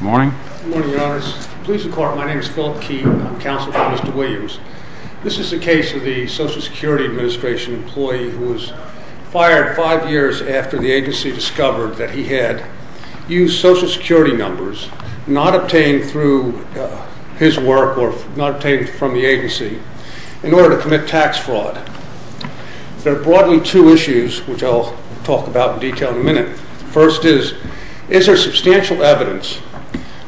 Morning. Good morning, your honors. My name is Philip Keefe. I'm counsel for Mr. Williams. This is the case of the Social Security Administration employee who was fired five years after the agency discovered that he had used Social Security numbers not obtained through his work or not obtained from the agency in order to commit tax fraud. There are broadly two issues which I'll talk about in detail in a minute. First is, is there substantial evidence that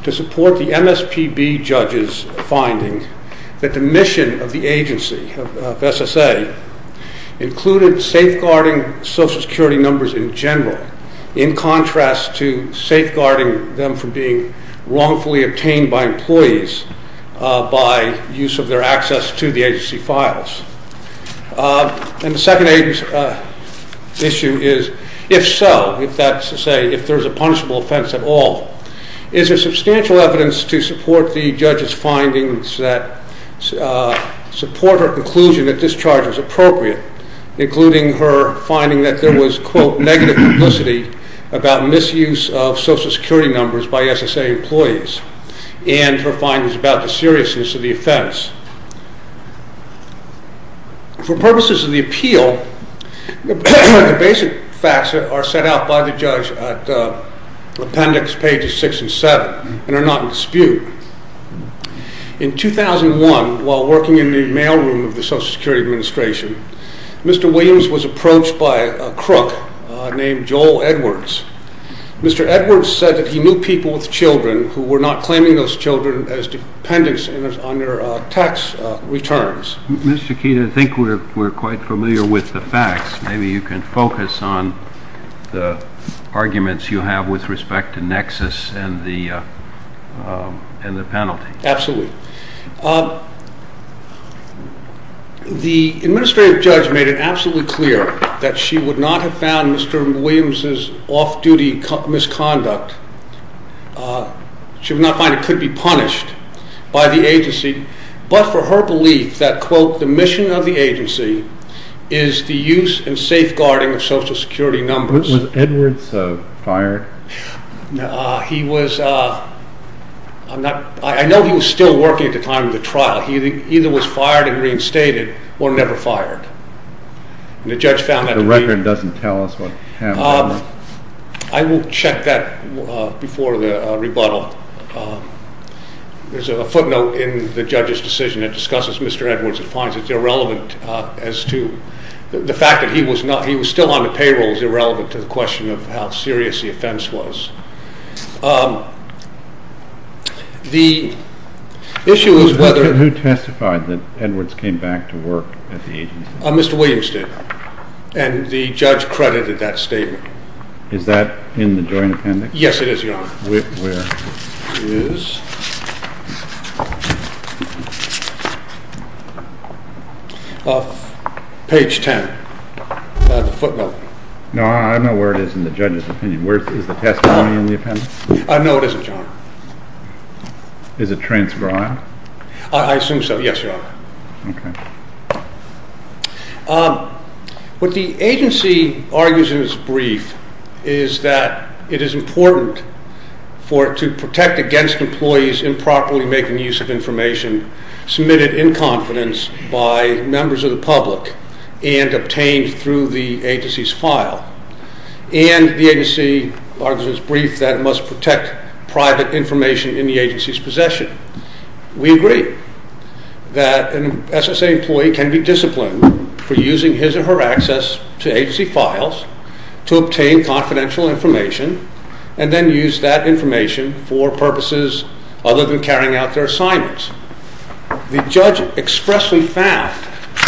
to support the MSPB judges' finding that the mission of the agency, of SSA, included safeguarding Social Security numbers in general in contrast to safeguarding them from being wrongfully obtained by employees by use of their access to the agency files. And the second issue is, if so, if there's a punishable offense at all, is there substantial evidence to support the judges' findings that support her conclusion that this charge was appropriate, including her finding that there was quote negative publicity about misuse of Social Security numbers by SSA employees and her findings about the seriousness of the offense. For purposes of the appeal, the basic facts are set out by the judge at appendix pages 6 and 7 and are not in dispute. In 2001, while working in the mailroom of the Social Security Administration, Mr. Williams was approached by a crook named Joel Edwards. Mr. Edwards said that he knew people with children who were not claiming those children as dependents on their tax returns. Mr. Keene, I think we're quite familiar with the facts. Maybe you can focus on the arguments you have with respect to nexus and the penalty. Absolutely. The administrative judge made it absolutely clear that she would not have found Mr. Williams' off-duty misconduct, she would not find it could be punished by the agency, but for her belief that quote the mission of the agency is the use and safeguarding of Social Security numbers. Was Edwards fired? I know he was still working at the time of the trial. He either was fired and reinstated or never fired. The record doesn't tell us what happened. I will check that before the rebuttal. There's a footnote in the judge's decision that discusses Mr. Edwards and finds it irrelevant as to the fact that he was still on the payroll is irrelevant to the question of how serious the offense was. Who testified that Edwards came back to work at the agency? Mr. Williams did and the judge credited that statement. Is that in the joint appendix? Yes, it is, Your Honor. Where? It is on page 10 of the footnote. I know where it is in the judge's opinion. Is the testimony in the appendix? No, it isn't, Your Honor. Is it transcribed? I assume so, yes, Your Honor. What the agency argues in its brief is that it is important to protect against employees improperly making use of information submitted in confidence by members of the public and obtained through the agency's file. And the agency argues in its brief that it must protect private information in the agency's possession. We agree that an SSA employee can be disciplined for using his or her access to agency files to obtain confidential information and then use that information for purposes other than carrying out their assignments. The judge expressly found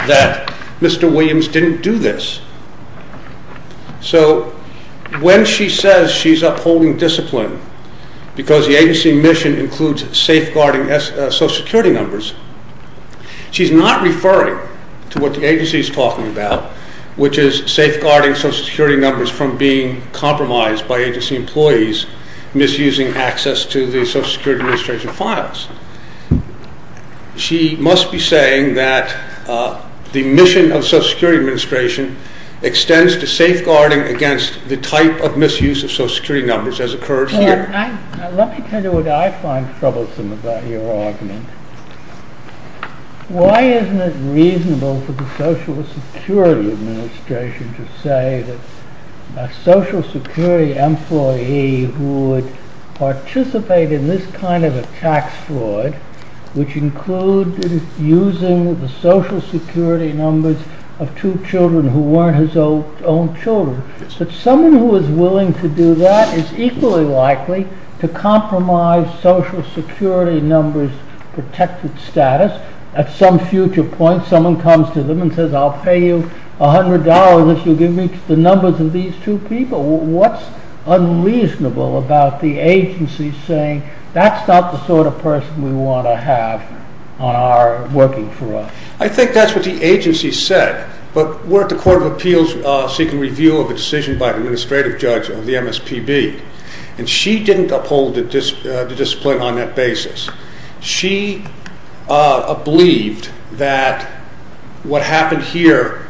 that Mr. Williams didn't do this. So when she says she's upholding discipline because the agency mission includes safeguarding social security numbers, she's not referring to what the agency is talking about, which is safeguarding social security numbers from being compromised by agency employees misusing access to the social security administration files. She must be saying that the mission of social security administration extends to safeguarding against the type of misuse of social security numbers as occurs here. Let me tell you what I find troublesome about your argument. Why isn't it reasonable for the social security administration to say that a social security employee who would participate in this kind of a tax fraud, which includes using the social security numbers of two children who weren't his own children, that someone who is willing to do that is equally likely to compromise social security numbers protected status. At some future point someone comes to them and says I'll pay you $100 if you give me the numbers of these two people. What's unreasonable about the agency saying that's not the sort of person we want to have working for us? I think that's what the agency said, but we're at the Court of Appeals seeking review of a decision by an administrative judge of the MSPB, and she didn't uphold the discipline on that basis. She believed that what happened here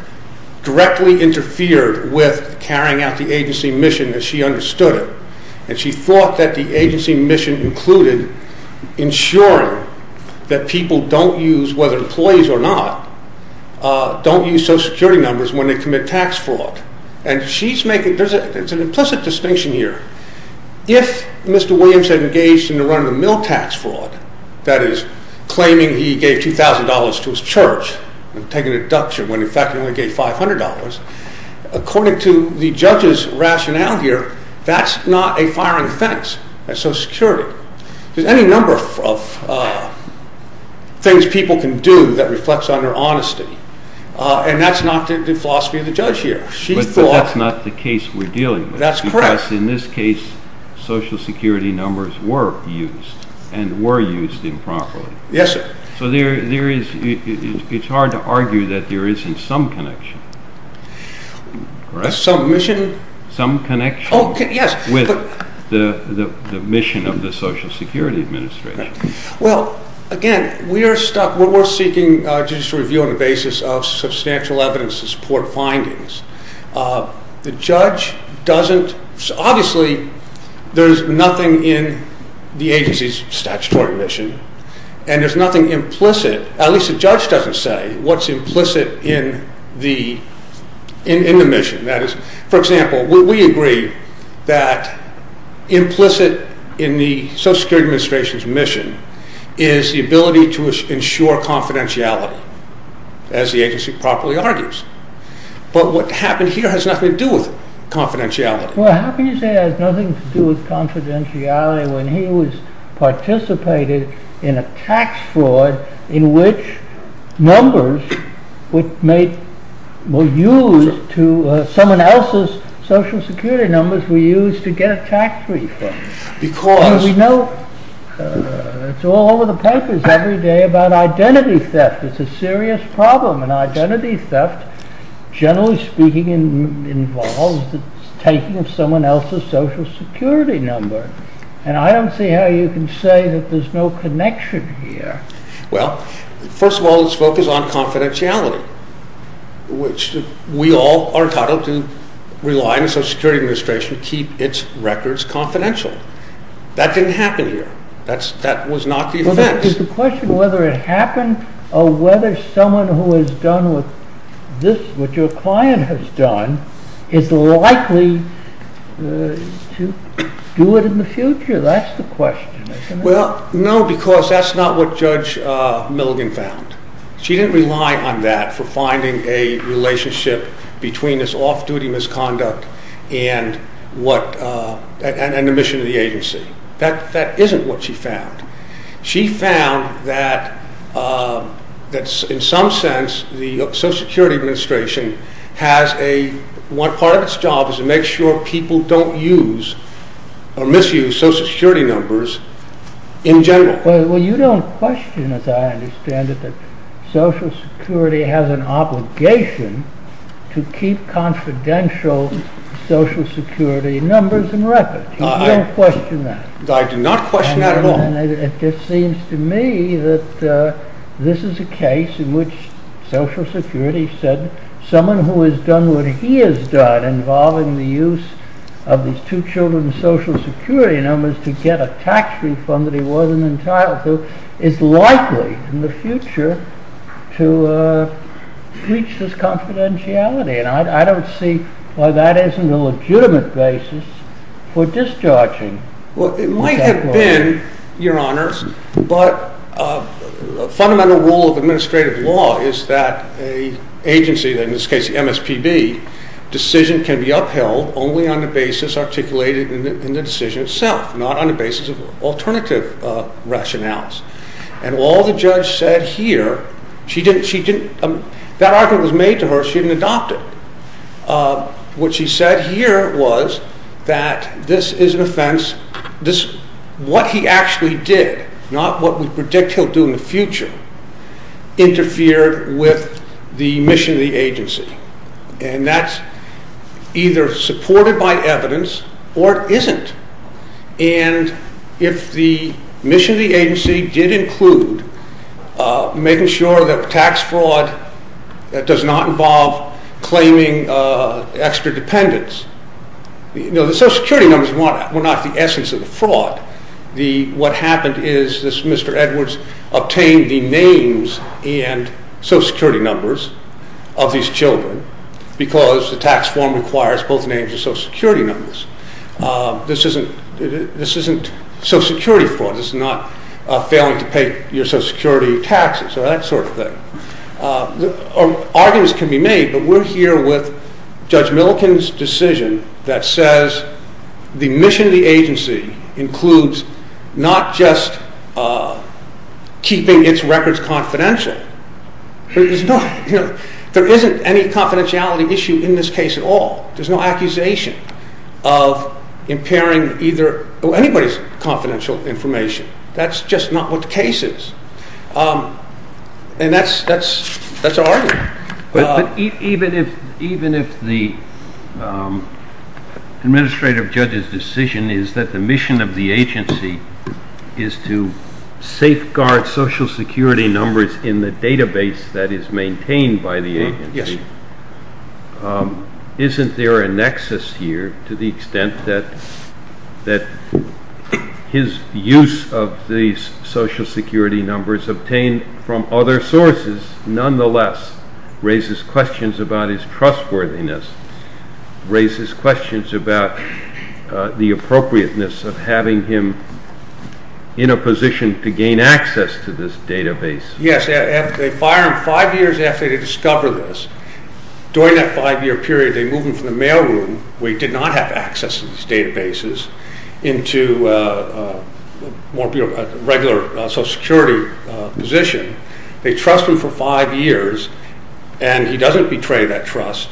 directly interfered with carrying out the agency mission as she understood it, and she thought that the agency mission included ensuring that people don't use, whether employees or not, don't use social security numbers when they commit tax fraud. It's an implicit distinction here. If Mr. Williams had engaged in the run of the mill tax fraud, that is claiming he gave $2,000 to his church and taking a deduction when in fact he only gave $500, according to the judge's rationale here, that's not a firing fence at social security. There's any number of things people can do that reflects on their honesty, and that's not the philosophy of the judge here. But that's not the case we're dealing with. That's correct. Because in this case social security numbers were used, and were used improperly. Yes, sir. So it's hard to argue that there isn't some connection. Some mission? Some connection with the mission of the Social Security Administration. Well, again, we're seeking judicial review on the basis of substantial evidence to support findings. The judge doesn't, obviously there's nothing in the agency's statutory mission, and there's nothing implicit, at least the judge doesn't say, what's implicit in the mission. For example, we agree that implicit in the Social Security Administration's mission is the ability to ensure confidentiality, as the agency properly argues. But what happened here has nothing to do with confidentiality. Well, how can you say it has nothing to do with confidentiality when he was participating in a tax fraud in which numbers were used to, someone else's social security numbers were used to get a tax refund. Because... We know, it's all over the papers every day about identity theft. It's a serious problem. And identity theft, generally speaking, involves taking someone else's social security number. And I don't see how you can say that there's no connection here. Well, first of all, it's focused on confidentiality, which we all are entitled to rely on the Social Security Administration to keep its records confidential. That didn't happen here. That was not the offense. It's a question of whether it happened or whether someone who has done what your client has done is likely to do it in the future. That's the question. Well, no, because that's not what Judge Milligan found. She didn't rely on that for finding a relationship between this off-duty misconduct and the mission of the agency. That isn't what she found. She found that, in some sense, the Social Security Administration has a... Part of its job is to make sure people don't use or misuse social security numbers in general. Well, you don't question, as I understand it, that Social Security has an obligation to keep confidential social security numbers and records. You don't question that. I do not question that at all. It just seems to me that this is a case in which Social Security said someone who has done what he has done involving the use of these two children's social security numbers to get a tax refund that he wasn't entitled to is likely, in the future, to reach this confidentiality. I don't see why that isn't a legitimate basis for discharging. Well, it might have been, Your Honor, but a fundamental rule of administrative law is that an agency, in this case the MSPB, decision can be upheld only on the basis articulated in the decision itself, not on the basis of alternative rationales. And all the judge said here, that argument was made to her, she didn't adopt it. What she said here was that this is an offense, what he actually did, not what we predict he'll do in the future, interfered with the mission of the agency. And that's either supported by evidence or it isn't. And if the mission of the agency did include making sure that tax fraud does not involve claiming extra dependents, the social security numbers were not the essence of the fraud. What happened is this Mr. Edwards obtained the names and social security numbers of these children because the tax form requires both names and social security numbers. This isn't social security fraud, this is not failing to pay your social security taxes or that sort of thing. Arguments can be made, but we're here with Judge Milliken's decision that says the mission of the agency includes not just keeping its records confidential. There isn't any confidentiality issue in this case at all. There's no accusation of impairing anybody's confidential information. That's just not what the case is. And that's our argument. Even if the administrative judge's decision is that the mission of the agency is to safeguard social security numbers in the database that is maintained by the agency, isn't there a nexus here to the extent that his use of these social security numbers obtained from other sources nonetheless raises questions about his trustworthiness, raises questions about the appropriateness of having him in a position to gain access to this database? Yes, they fire him five years after they discover this. During that five year period they move him from the mail room where he did not have access to these databases into a regular social security position. They trust him for five years and he doesn't betray that trust.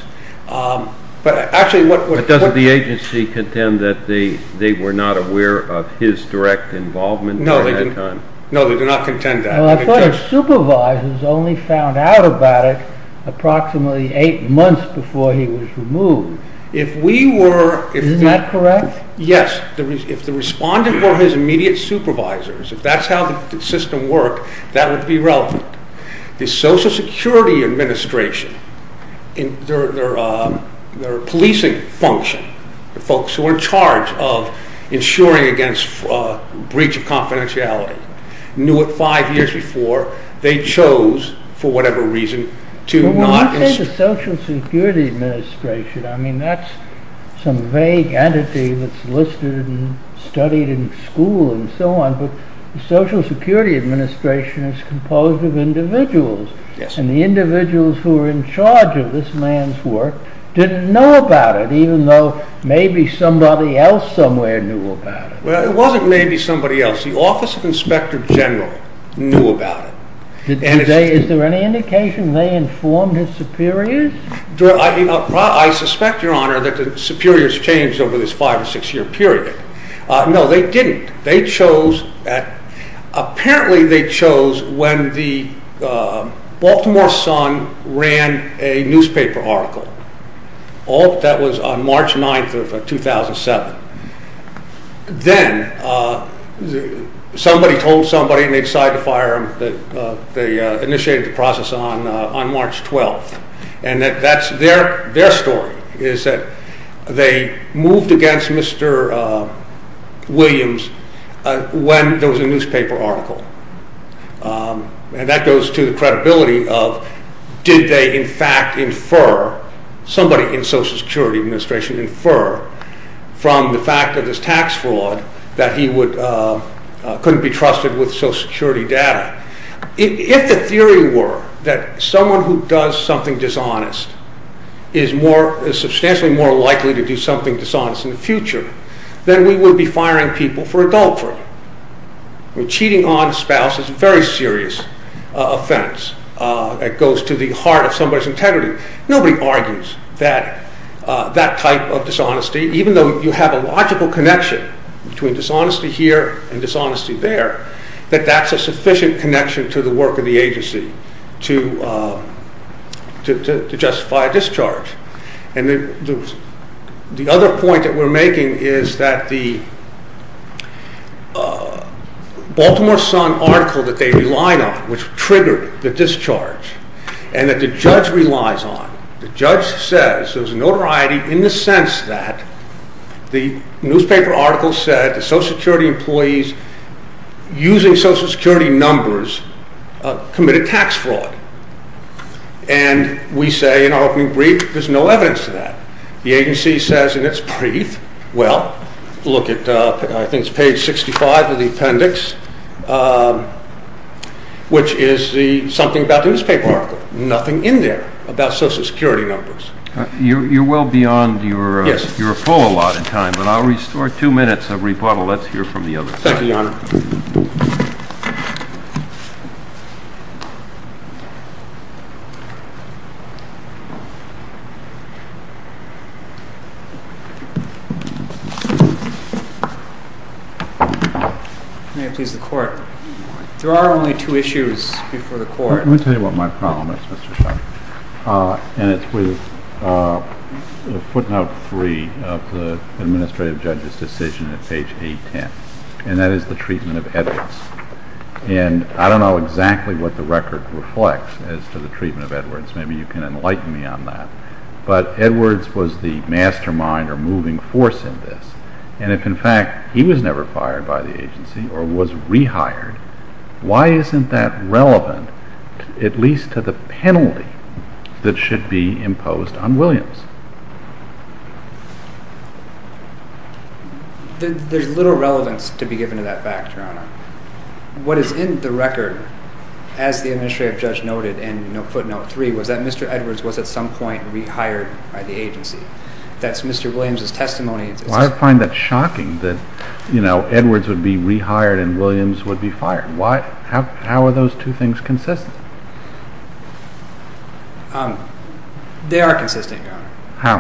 But doesn't the agency contend that they were not aware of his direct involvement? No, they do not contend that. I thought his supervisors only found out about it approximately eight months before he was removed. Isn't that correct? Yes, if the respondent were his immediate supervisors, if that's how the system worked, that would be relevant. The Social Security Administration, their policing function, the folks who are in charge of ensuring against breach of confidentiality, knew it five years before, they chose, for whatever reason, to not... When you say the Social Security Administration, I mean that's some vague entity that's listed and studied in school and so on, but the Social Security Administration is composed of individuals, and the individuals who are in charge of this man's work didn't know about it, even though maybe somebody else somewhere knew about it. Well, it wasn't maybe somebody else. The Office of Inspector General knew about it. Is there any indication they informed his superiors? I suspect, Your Honor, that the superiors changed over this five or six year period. No, they didn't. They chose, apparently they chose when the Baltimore Sun ran a newspaper article. That was on March 9th of 2007. Then, somebody told somebody and they decided to fire him. They initiated the process on March 12th, and that's their story, is that they moved against Mr. Williams when there was a newspaper article. That goes to the credibility of did they in fact infer, somebody in Social Security Administration infer, from the fact of this tax fraud that he couldn't be trusted with Social Security data. If the theory were that someone who does something dishonest is substantially more likely to do something dishonest in the future, then we would be firing people for adultery. Cheating on a spouse is a very serious offense that goes to the heart of somebody's integrity. Nobody argues that that type of dishonesty, even though you have a logical connection between dishonesty here and dishonesty there, that that's a sufficient connection to the work of the agency to justify a discharge. The other point that we're making is that the Baltimore Sun article that they relied on, which triggered the discharge, and that the judge relies on, the judge says there's notoriety in the sense that the newspaper article said that Social Security employees using Social Security numbers committed tax fraud. And we say in our opening brief, there's no evidence to that. The agency says in its brief, well, look at I think it's page 65 of the appendix, which is something about the newspaper article. Nothing in there about Social Security numbers. You're well beyond your full allotted time, but I'll restore two minutes of rebuttal. Let's hear from the other side. Thank you, Your Honor. May it please the Court. There are only two issues before the Court. Let me tell you what my problem is, Mr. Sharp. And it's with footnote three of the administrative judge's decision at page 810, and that is the treatment of evidence. And I don't know exactly what the record reflects as to the treatment of Edwards. Maybe you can enlighten me on that. But Edwards was the mastermind or moving force in this. And if, in fact, he was never fired by the agency or was rehired, why isn't that relevant at least to the penalty that should be imposed on Williams? There's little relevance to be given to that fact, Your Honor. What is in the record, as the administrative judge noted in footnote three, was that Mr. Edwards was at some point rehired by the agency. That's Mr. Williams' testimony. Well, I find that shocking that Edwards would be rehired and Williams would be fired. How are those two things consistent? They are consistent, Your Honor. How?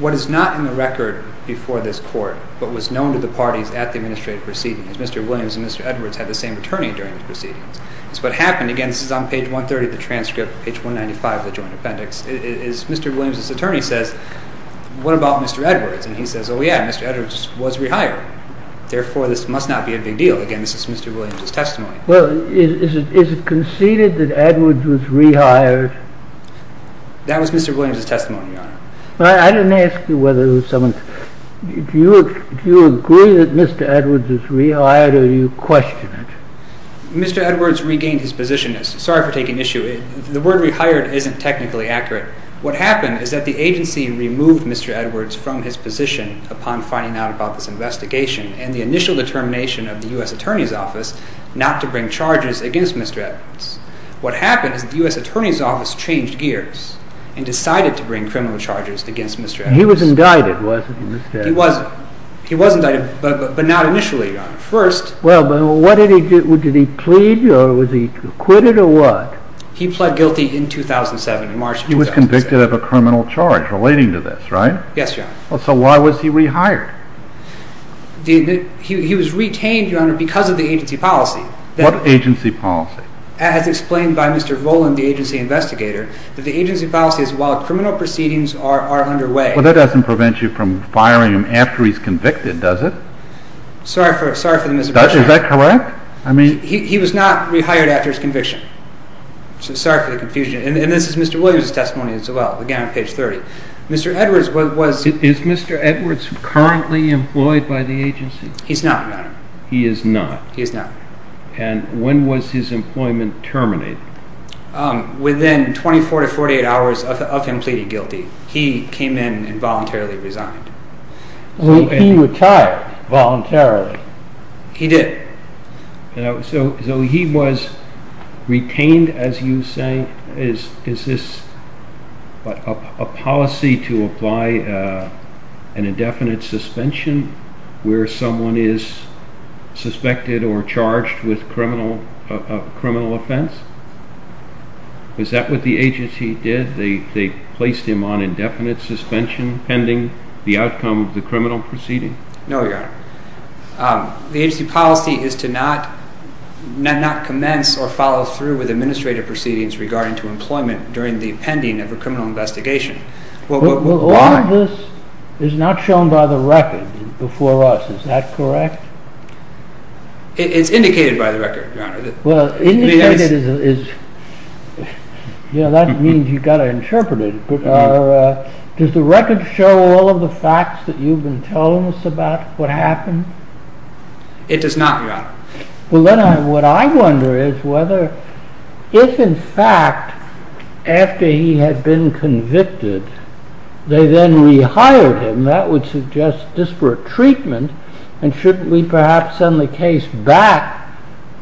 What is not in the record before this court but was known to the parties at the administrative proceedings is Mr. Williams and Mr. Edwards had the same attorney during the proceedings. It's what happened. Again, this is on page 130 of the transcript, page 195 of the joint appendix, is Mr. Williams' attorney says, what about Mr. Edwards? And he says, oh, yeah, Mr. Edwards was rehired. Therefore, this must not be a big deal. Again, this is Mr. Williams' testimony. Well, is it conceded that Edwards was rehired? That was Mr. Williams' testimony, Your Honor. Well, I didn't ask you whether it was someone's. Do you agree that Mr. Edwards was rehired or do you question it? Mr. Edwards regained his position. Sorry for taking issue. The word rehired isn't technically accurate. What happened is that the agency removed Mr. Edwards from his position upon finding out about this investigation and the initial determination of the U.S. Attorney's Office not to bring charges against Mr. Edwards. What happened is that the U.S. Attorney's Office changed gears and decided to bring criminal charges against Mr. Edwards. He was indicted, wasn't he, Mr. Edwards? He was. He was indicted, but not initially, Your Honor. Well, what did he do? Did he plead or was he acquitted or what? He pled guilty in 2007, in March 2007. He was convicted of a criminal charge relating to this, right? Yes, Your Honor. So why was he rehired? He was retained, Your Honor, because of the agency policy. What agency policy? As explained by Mr. Volan, the agency investigator, that the agency policy is while criminal proceedings are underway. Well, that doesn't prevent you from firing him after he's convicted, does it? Sorry for the misapprehension. Is that correct? He was not rehired after his conviction, so sorry for the confusion. And this is Mr. Williams' testimony as well, again on page 30. Mr. Edwards was... Is Mr. Edwards currently employed by the agency? He's not, Your Honor. He is not? He is not. And when was his employment terminated? Within 24 to 48 hours of him pleading guilty. He came in and voluntarily resigned. He retired voluntarily. He did. So he was retained, as you say. Is this a policy to apply an indefinite suspension where someone is suspected or charged with a criminal offense? Is that what the agency did? They placed him on indefinite suspension pending the outcome of the criminal proceeding? No, Your Honor. The agency policy is to not commence or follow through with administrative proceedings regarding to employment during the pending of a criminal investigation. All of this is not shown by the record before us. Is that correct? It's indicated by the record, Your Honor. Indicated is... That means you've got to interpret it. Does the record show all of the facts that you've been telling us about what happened? It does not, Your Honor. What I wonder is whether, if in fact, after he had been convicted, they then rehired him, that would suggest disparate treatment, and should we perhaps send the case back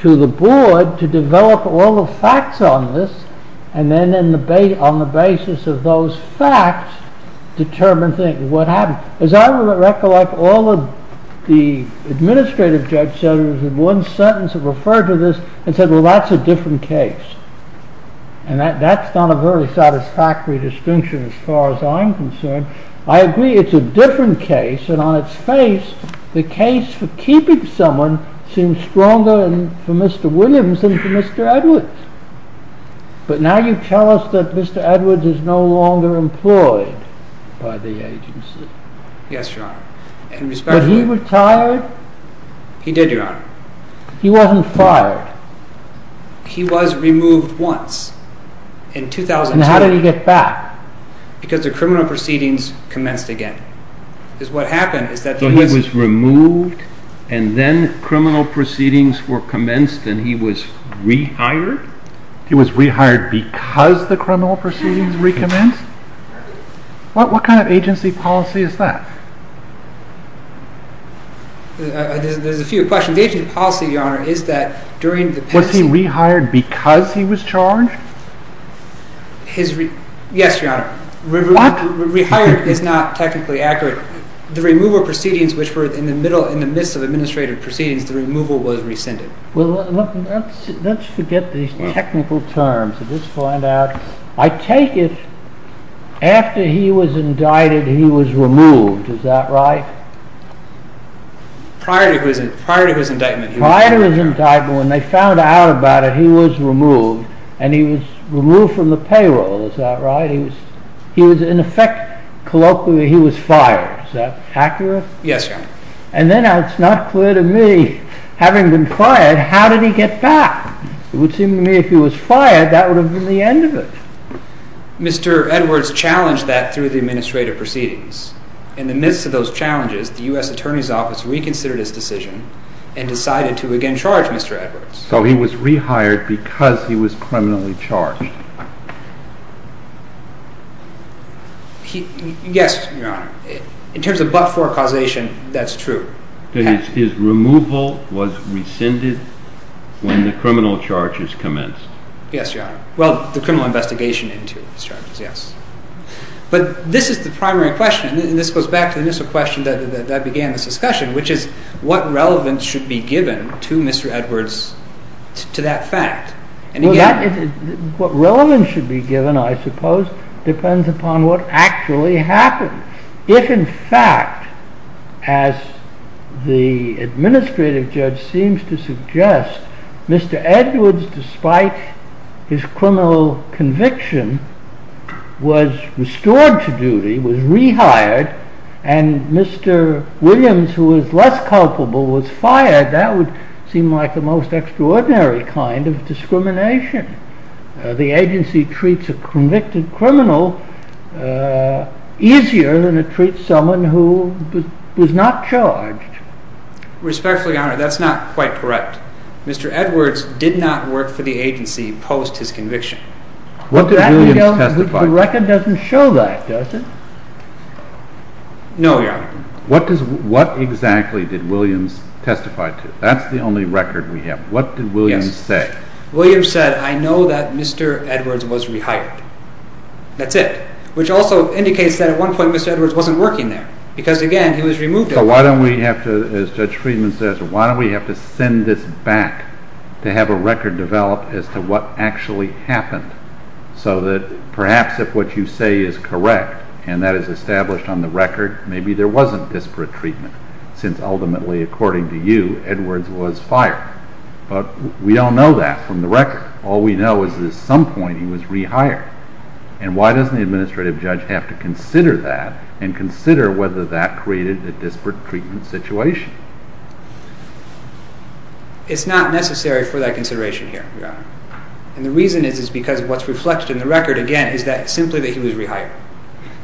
to the board to develop all the facts on this, and then on the basis of those facts, determine what happened. As I recollect, all of the administrative judges in one sentence have referred to this and said, well, that's a different case. And that's not a very satisfactory distinction as far as I'm concerned. I agree it's a different case, and on its face, the case for keeping someone seems stronger for Mr. Williams than for Mr. Edwards. But now you tell us that Mr. Edwards is no longer employed by the agency. Yes, Your Honor. But he retired? He did, Your Honor. He wasn't fired? He was removed once, in 2002. And how did he get back? Because the criminal proceedings commenced again. So he was removed, and then criminal proceedings were commenced, and he was rehired? He was rehired because the criminal proceedings recommenced? What kind of agency policy is that? There's a few questions. The agency policy, Your Honor, is that during the penalty… Was he rehired because he was charged? Yes, Your Honor. Rehired is not technically accurate. The removal proceedings, which were in the midst of administrative proceedings, the removal was rescinded. Let's forget these technical terms and just find out. I take it, after he was indicted, he was removed, is that right? Prior to his indictment. Prior to his indictment, when they found out about it, he was removed, and he was removed from the payroll, is that right? He was, in effect, colloquially, he was fired. Is that accurate? Yes, Your Honor. And then it's not clear to me, having been fired, how did he get back? It would seem to me if he was fired, that would have been the end of it. Mr. Edwards challenged that through the administrative proceedings. In the midst of those challenges, the U.S. Attorney's Office reconsidered his decision and decided to again charge Mr. Edwards. So he was rehired because he was criminally charged. Yes, Your Honor. In terms of but-for causation, that's true. His removal was rescinded when the criminal charges commenced. Yes, Your Honor. Well, the criminal investigation into his charges, yes. But this is the primary question, and this goes back to the initial question that began this discussion, which is what relevance should be given to Mr. Edwards, to that fact? What relevance should be given, I suppose, depends upon what actually happened. If, in fact, as the administrative judge seems to suggest, Mr. Edwards, despite his criminal conviction, was restored to duty, was rehired, and Mr. Williams, who was less culpable, was fired, that would seem like the most extraordinary kind of discrimination. The agency treats a convicted criminal easier than it treats someone who was not charged. Respectfully, Your Honor, that's not quite correct. Mr. Edwards did not work for the agency post his conviction. The record doesn't show that, does it? No, Your Honor. What exactly did Williams testify to? That's the only record we have. What did Williams say? Williams said, I know that Mr. Edwards was rehired. That's it, which also indicates that at one point Mr. Edwards wasn't working there, because, again, he was removed. So why don't we have to, as Judge Friedman says, why don't we have to send this back to have a record developed as to what actually happened, so that perhaps if what you say is correct and that is established on the record, maybe there wasn't disparate treatment, since ultimately, according to you, Edwards was fired. But we don't know that from the record. All we know is that at some point he was rehired. And why doesn't the administrative judge have to consider that and consider whether that created a disparate treatment situation? It's not necessary for that consideration here, Your Honor. And the reason is because what's reflected in the record, again, is simply that he was rehired.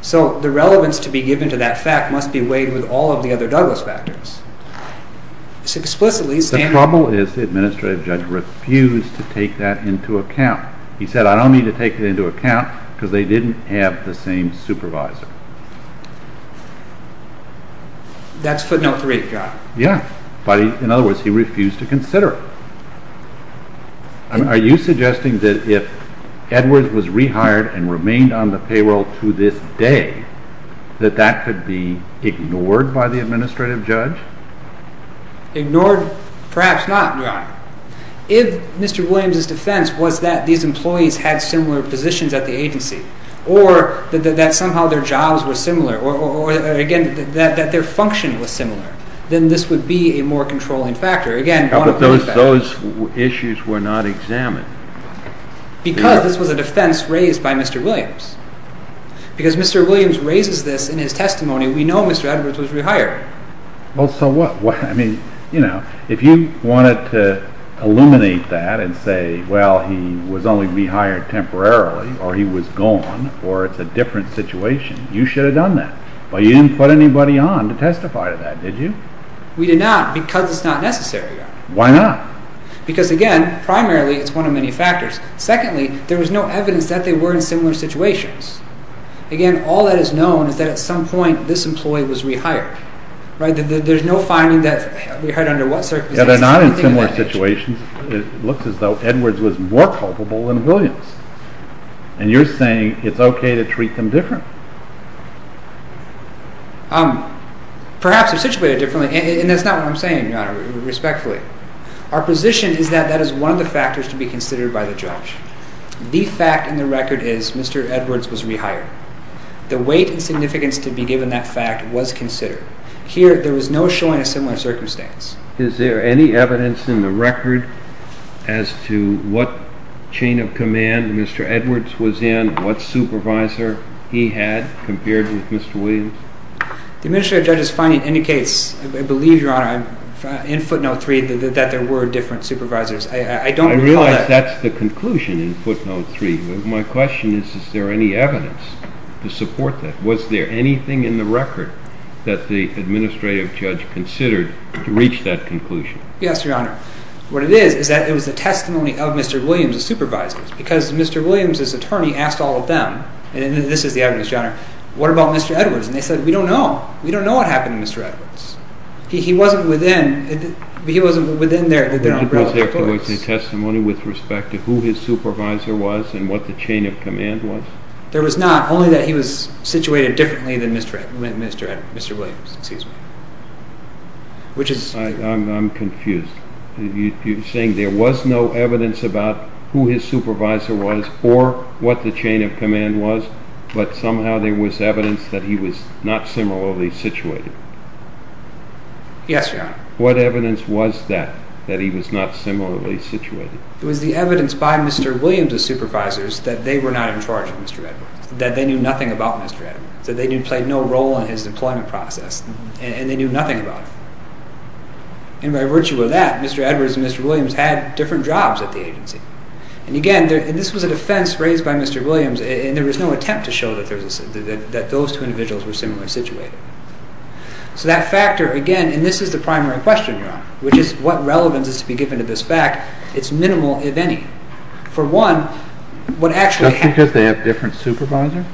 So the relevance to be given to that fact must be weighed with all of the other Douglas factors. The problem is the administrative judge refused to take that into account. He said, I don't need to take it into account, because they didn't have the same supervisor. That's footnote 3, Your Honor. Yeah. In other words, he refused to consider it. Are you suggesting that if Edwards was rehired and remained on the payroll to this day, that that could be ignored by the administrative judge? Ignored, perhaps not, Your Honor. If Mr. Williams' defense was that these employees had similar positions at the agency or that somehow their jobs were similar or, again, that their function was similar, then this would be a more controlling factor. Again, one of those factors. But those issues were not examined. Because this was a defense raised by Mr. Williams. Because Mr. Williams raises this in his testimony, we know Mr. Edwards was rehired. Well, so what? I mean, you know, if you wanted to illuminate that and say, well, he was only rehired temporarily or he was gone or it's a different situation, you should have done that. But you didn't put anybody on to testify to that, did you? We did not because it's not necessary, Your Honor. Why not? Because, again, primarily it's one of many factors. Secondly, there was no evidence that they were in similar situations. Again, all that is known is that at some point this employee was rehired. There's no finding that we heard under what circumstances. Yeah, they're not in similar situations. It looks as though Edwards was more culpable than Williams. And you're saying it's okay to treat them different. Perhaps they're situated differently. And that's not what I'm saying, Your Honor, respectfully. Our position is that that is one of the factors to be considered by the judge. The fact in the record is Mr. Edwards was rehired. The weight and significance to be given that fact was considered. Here there was no showing a similar circumstance. Is there any evidence in the record as to what chain of command Mr. Edwards was in, what supervisor he had compared with Mr. Williams? The Administrative Judge's finding indicates, I believe, Your Honor, in footnote 3, that there were different supervisors. I don't recall that. I realize that's the conclusion in footnote 3. My question is, is there any evidence to support that? Was there anything in the record that the Administrative Judge considered to reach that conclusion? Yes, Your Honor. What it is is that it was the testimony of Mr. Williams' supervisors because Mr. Williams' attorney asked all of them, and this is the evidence, Your Honor, what about Mr. Edwards? And they said, we don't know. We don't know what happened to Mr. Edwards. He wasn't within their relative books. Didn't they have to make a testimony with respect to who his supervisor was and what the chain of command was? There was not, only that he was situated differently than Mr. Williams. I'm confused. You're saying there was no evidence about who his supervisor was or what the chain of command was, but somehow there was evidence that he was not similarly situated? Yes, Your Honor. What evidence was that, that he was not similarly situated? It was the evidence by Mr. Williams' supervisors that they were not in charge of Mr. Edwards, that they knew nothing about Mr. Edwards, that they played no role in his employment process, and they knew nothing about him. And by virtue of that, Mr. Edwards and Mr. Williams had different jobs at the agency. And again, this was a defense raised by Mr. Williams, and there was no attempt to show that those two individuals were similarly situated. So that factor, again, and this is the primary question, Your Honor, which is, what relevance is to be given to this fact? It's minimal, if any. For one, what actually happened... Just because they have different supervisors?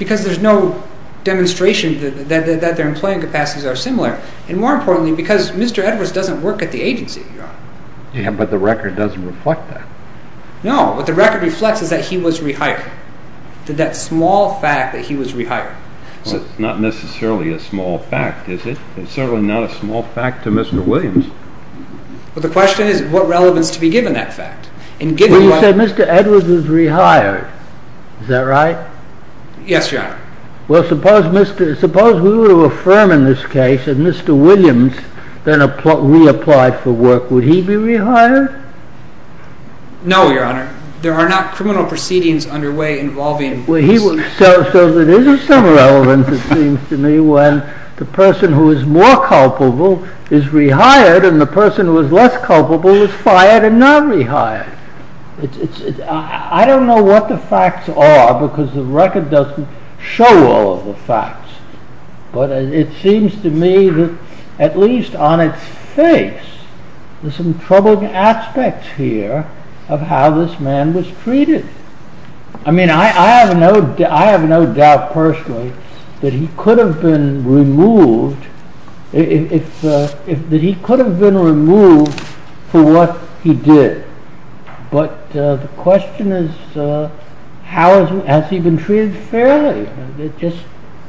Because there's no demonstration that their employment capacities are similar, Yeah, but the record doesn't reflect that. No, what the record reflects is that he was rehired. That small fact that he was rehired. Well, it's not necessarily a small fact, is it? It's certainly not a small fact to Mr. Williams. But the question is, what relevance to be given that fact? Well, you said Mr. Edwards was rehired. Is that right? Yes, Your Honor. Well, suppose we were to affirm in this case that Mr. Williams reapplied for work. Would he be rehired? No, Your Honor. There are not criminal proceedings underway involving... So there is some relevance, it seems to me, when the person who is more culpable is rehired, and the person who is less culpable is fired and not rehired. I don't know what the facts are because the record doesn't show all of the facts. But it seems to me that at least on its face, there's some troubling aspects here of how this man was treated. I mean, I have no doubt personally that he could have been removed that he could have been removed for what he did. But the question is, has he been treated fairly? It just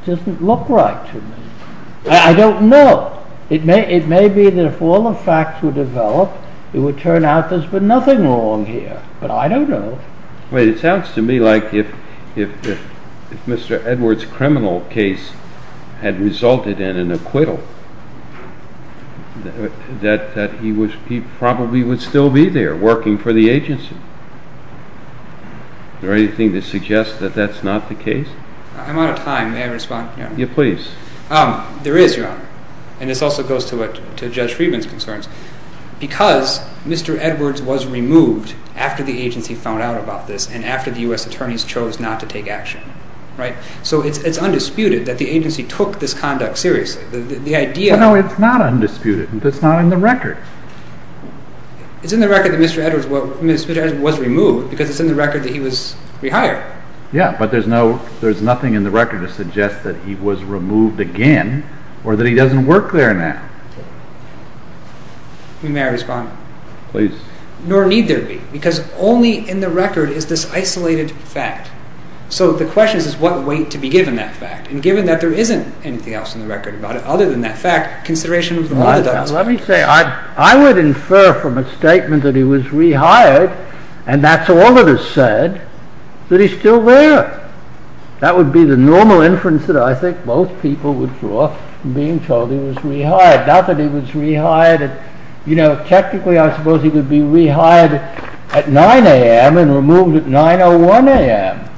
doesn't look right to me. I don't know. It may be that if all the facts were developed, it would turn out there's been nothing wrong here. But I don't know. It sounds to me like if Mr. Edwards' criminal case had resulted in an acquittal, that he probably would still be there working for the agency. Is there anything to suggest that that's not the case? I'm out of time. May I respond? Yes, please. There is, Your Honor, and this also goes to Judge Friedman's concerns. Because Mr. Edwards was removed after the agency found out about this and after the U.S. attorneys chose not to take action. So it's undisputed that the agency took this conduct seriously. No, it's not undisputed. It's not in the record. It's in the record that Mr. Edwards was removed because it's in the record that he was rehired. Yes, but there's nothing in the record to suggest that he was removed again or that he doesn't work there now. May I respond? Please. Nor need there be, because only in the record is this isolated fact. So the question is, what weight to be given that fact? And given that there isn't anything else in the record about it other than that fact, consideration of the moral documents... Let me say, I would infer from a statement that he was rehired and that's all that is said, that he's still there. That would be the normal inference that I think most people would draw from being told he was rehired. Not that he was rehired. You know, technically I suppose he would be rehired at 9 a.m. and removed at 9.01 a.m.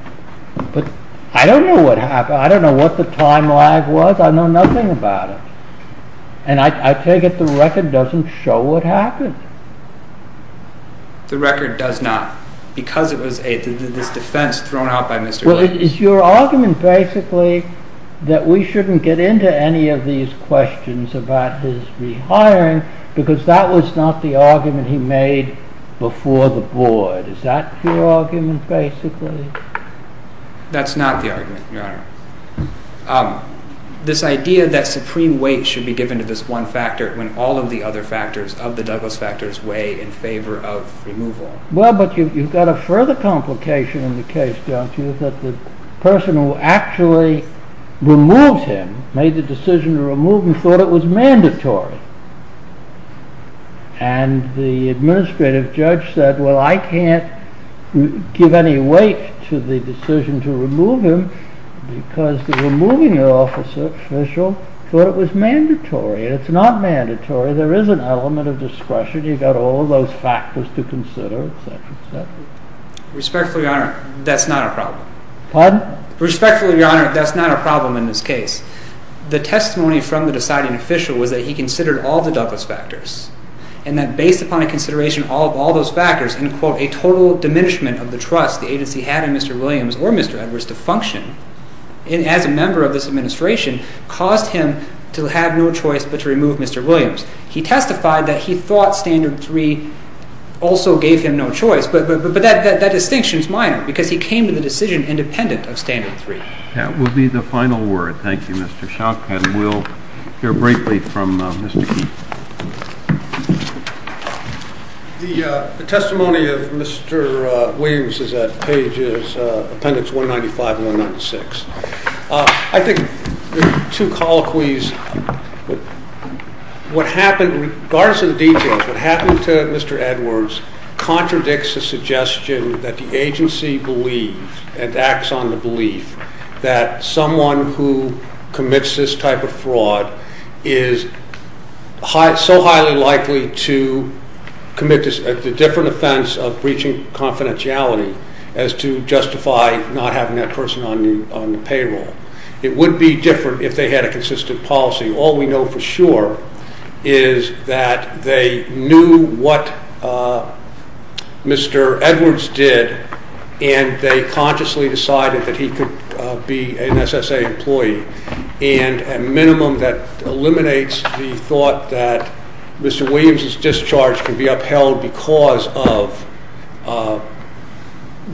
But I don't know what happened. I don't know what the time lag was. I know nothing about it. And I take it the record doesn't show what happened. The record does not. Because it was this defense thrown out by Mr. Lewis. Well, is your argument basically that we shouldn't get into any of these questions about his rehiring because that was not the argument he made before the board? Is that your argument basically? That's not the argument, Your Honor. This idea that supreme weight should be given to this one factor when all of the other factors of the Douglas factors weigh in favor of removal. Well, but you've got a further complication in the case, don't you? That the person who actually removed him, made the decision to remove him, thought it was mandatory. And the administrative judge said, well, I can't give any weight to the decision to remove him because the removing officer official thought it was mandatory. And it's not mandatory. There is an element of discretion. You've got all of those factors to consider, et cetera, et cetera. Respectfully, Your Honor, that's not a problem. Pardon? Respectfully, Your Honor, that's not a problem in this case. The testimony from the deciding official was that he considered all the Douglas factors and that based upon a consideration of all those factors, and a total diminishment of the trust the agency had in Mr. Williams or Mr. Edwards to function as a member of this administration caused him to have no choice but to remove Mr. Williams. He testified that he thought Standard 3 also gave him no choice. But that distinction is minor because he came to the decision independent of Standard 3. That will be the final word. Thank you, Mr. Schock. And we'll hear briefly from Mr. Keith. The testimony of Mr. Williams is at pages 195 and 196. I think there are two colloquies. What happened, regardless of the details, what happened to Mr. Edwards contradicts the suggestion that the agency believes and acts on the belief that someone who commits this type of fraud is so highly likely to commit the different offense of breaching confidentiality as to justify not having that person on the payroll. It would be different if they had a consistent policy. All we know for sure is that they knew what Mr. Edwards did and they consciously decided that he could be an SSA employee, and a minimum that eliminates the thought that Mr. Williams' discharge can be upheld because of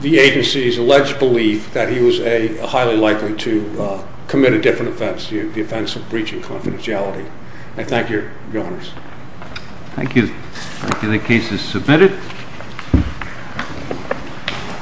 the agency's alleged belief that he was highly likely to commit a different offense, the offense of breaching confidentiality. I thank you, Your Honors. Thank you. Thank you. The case is submitted.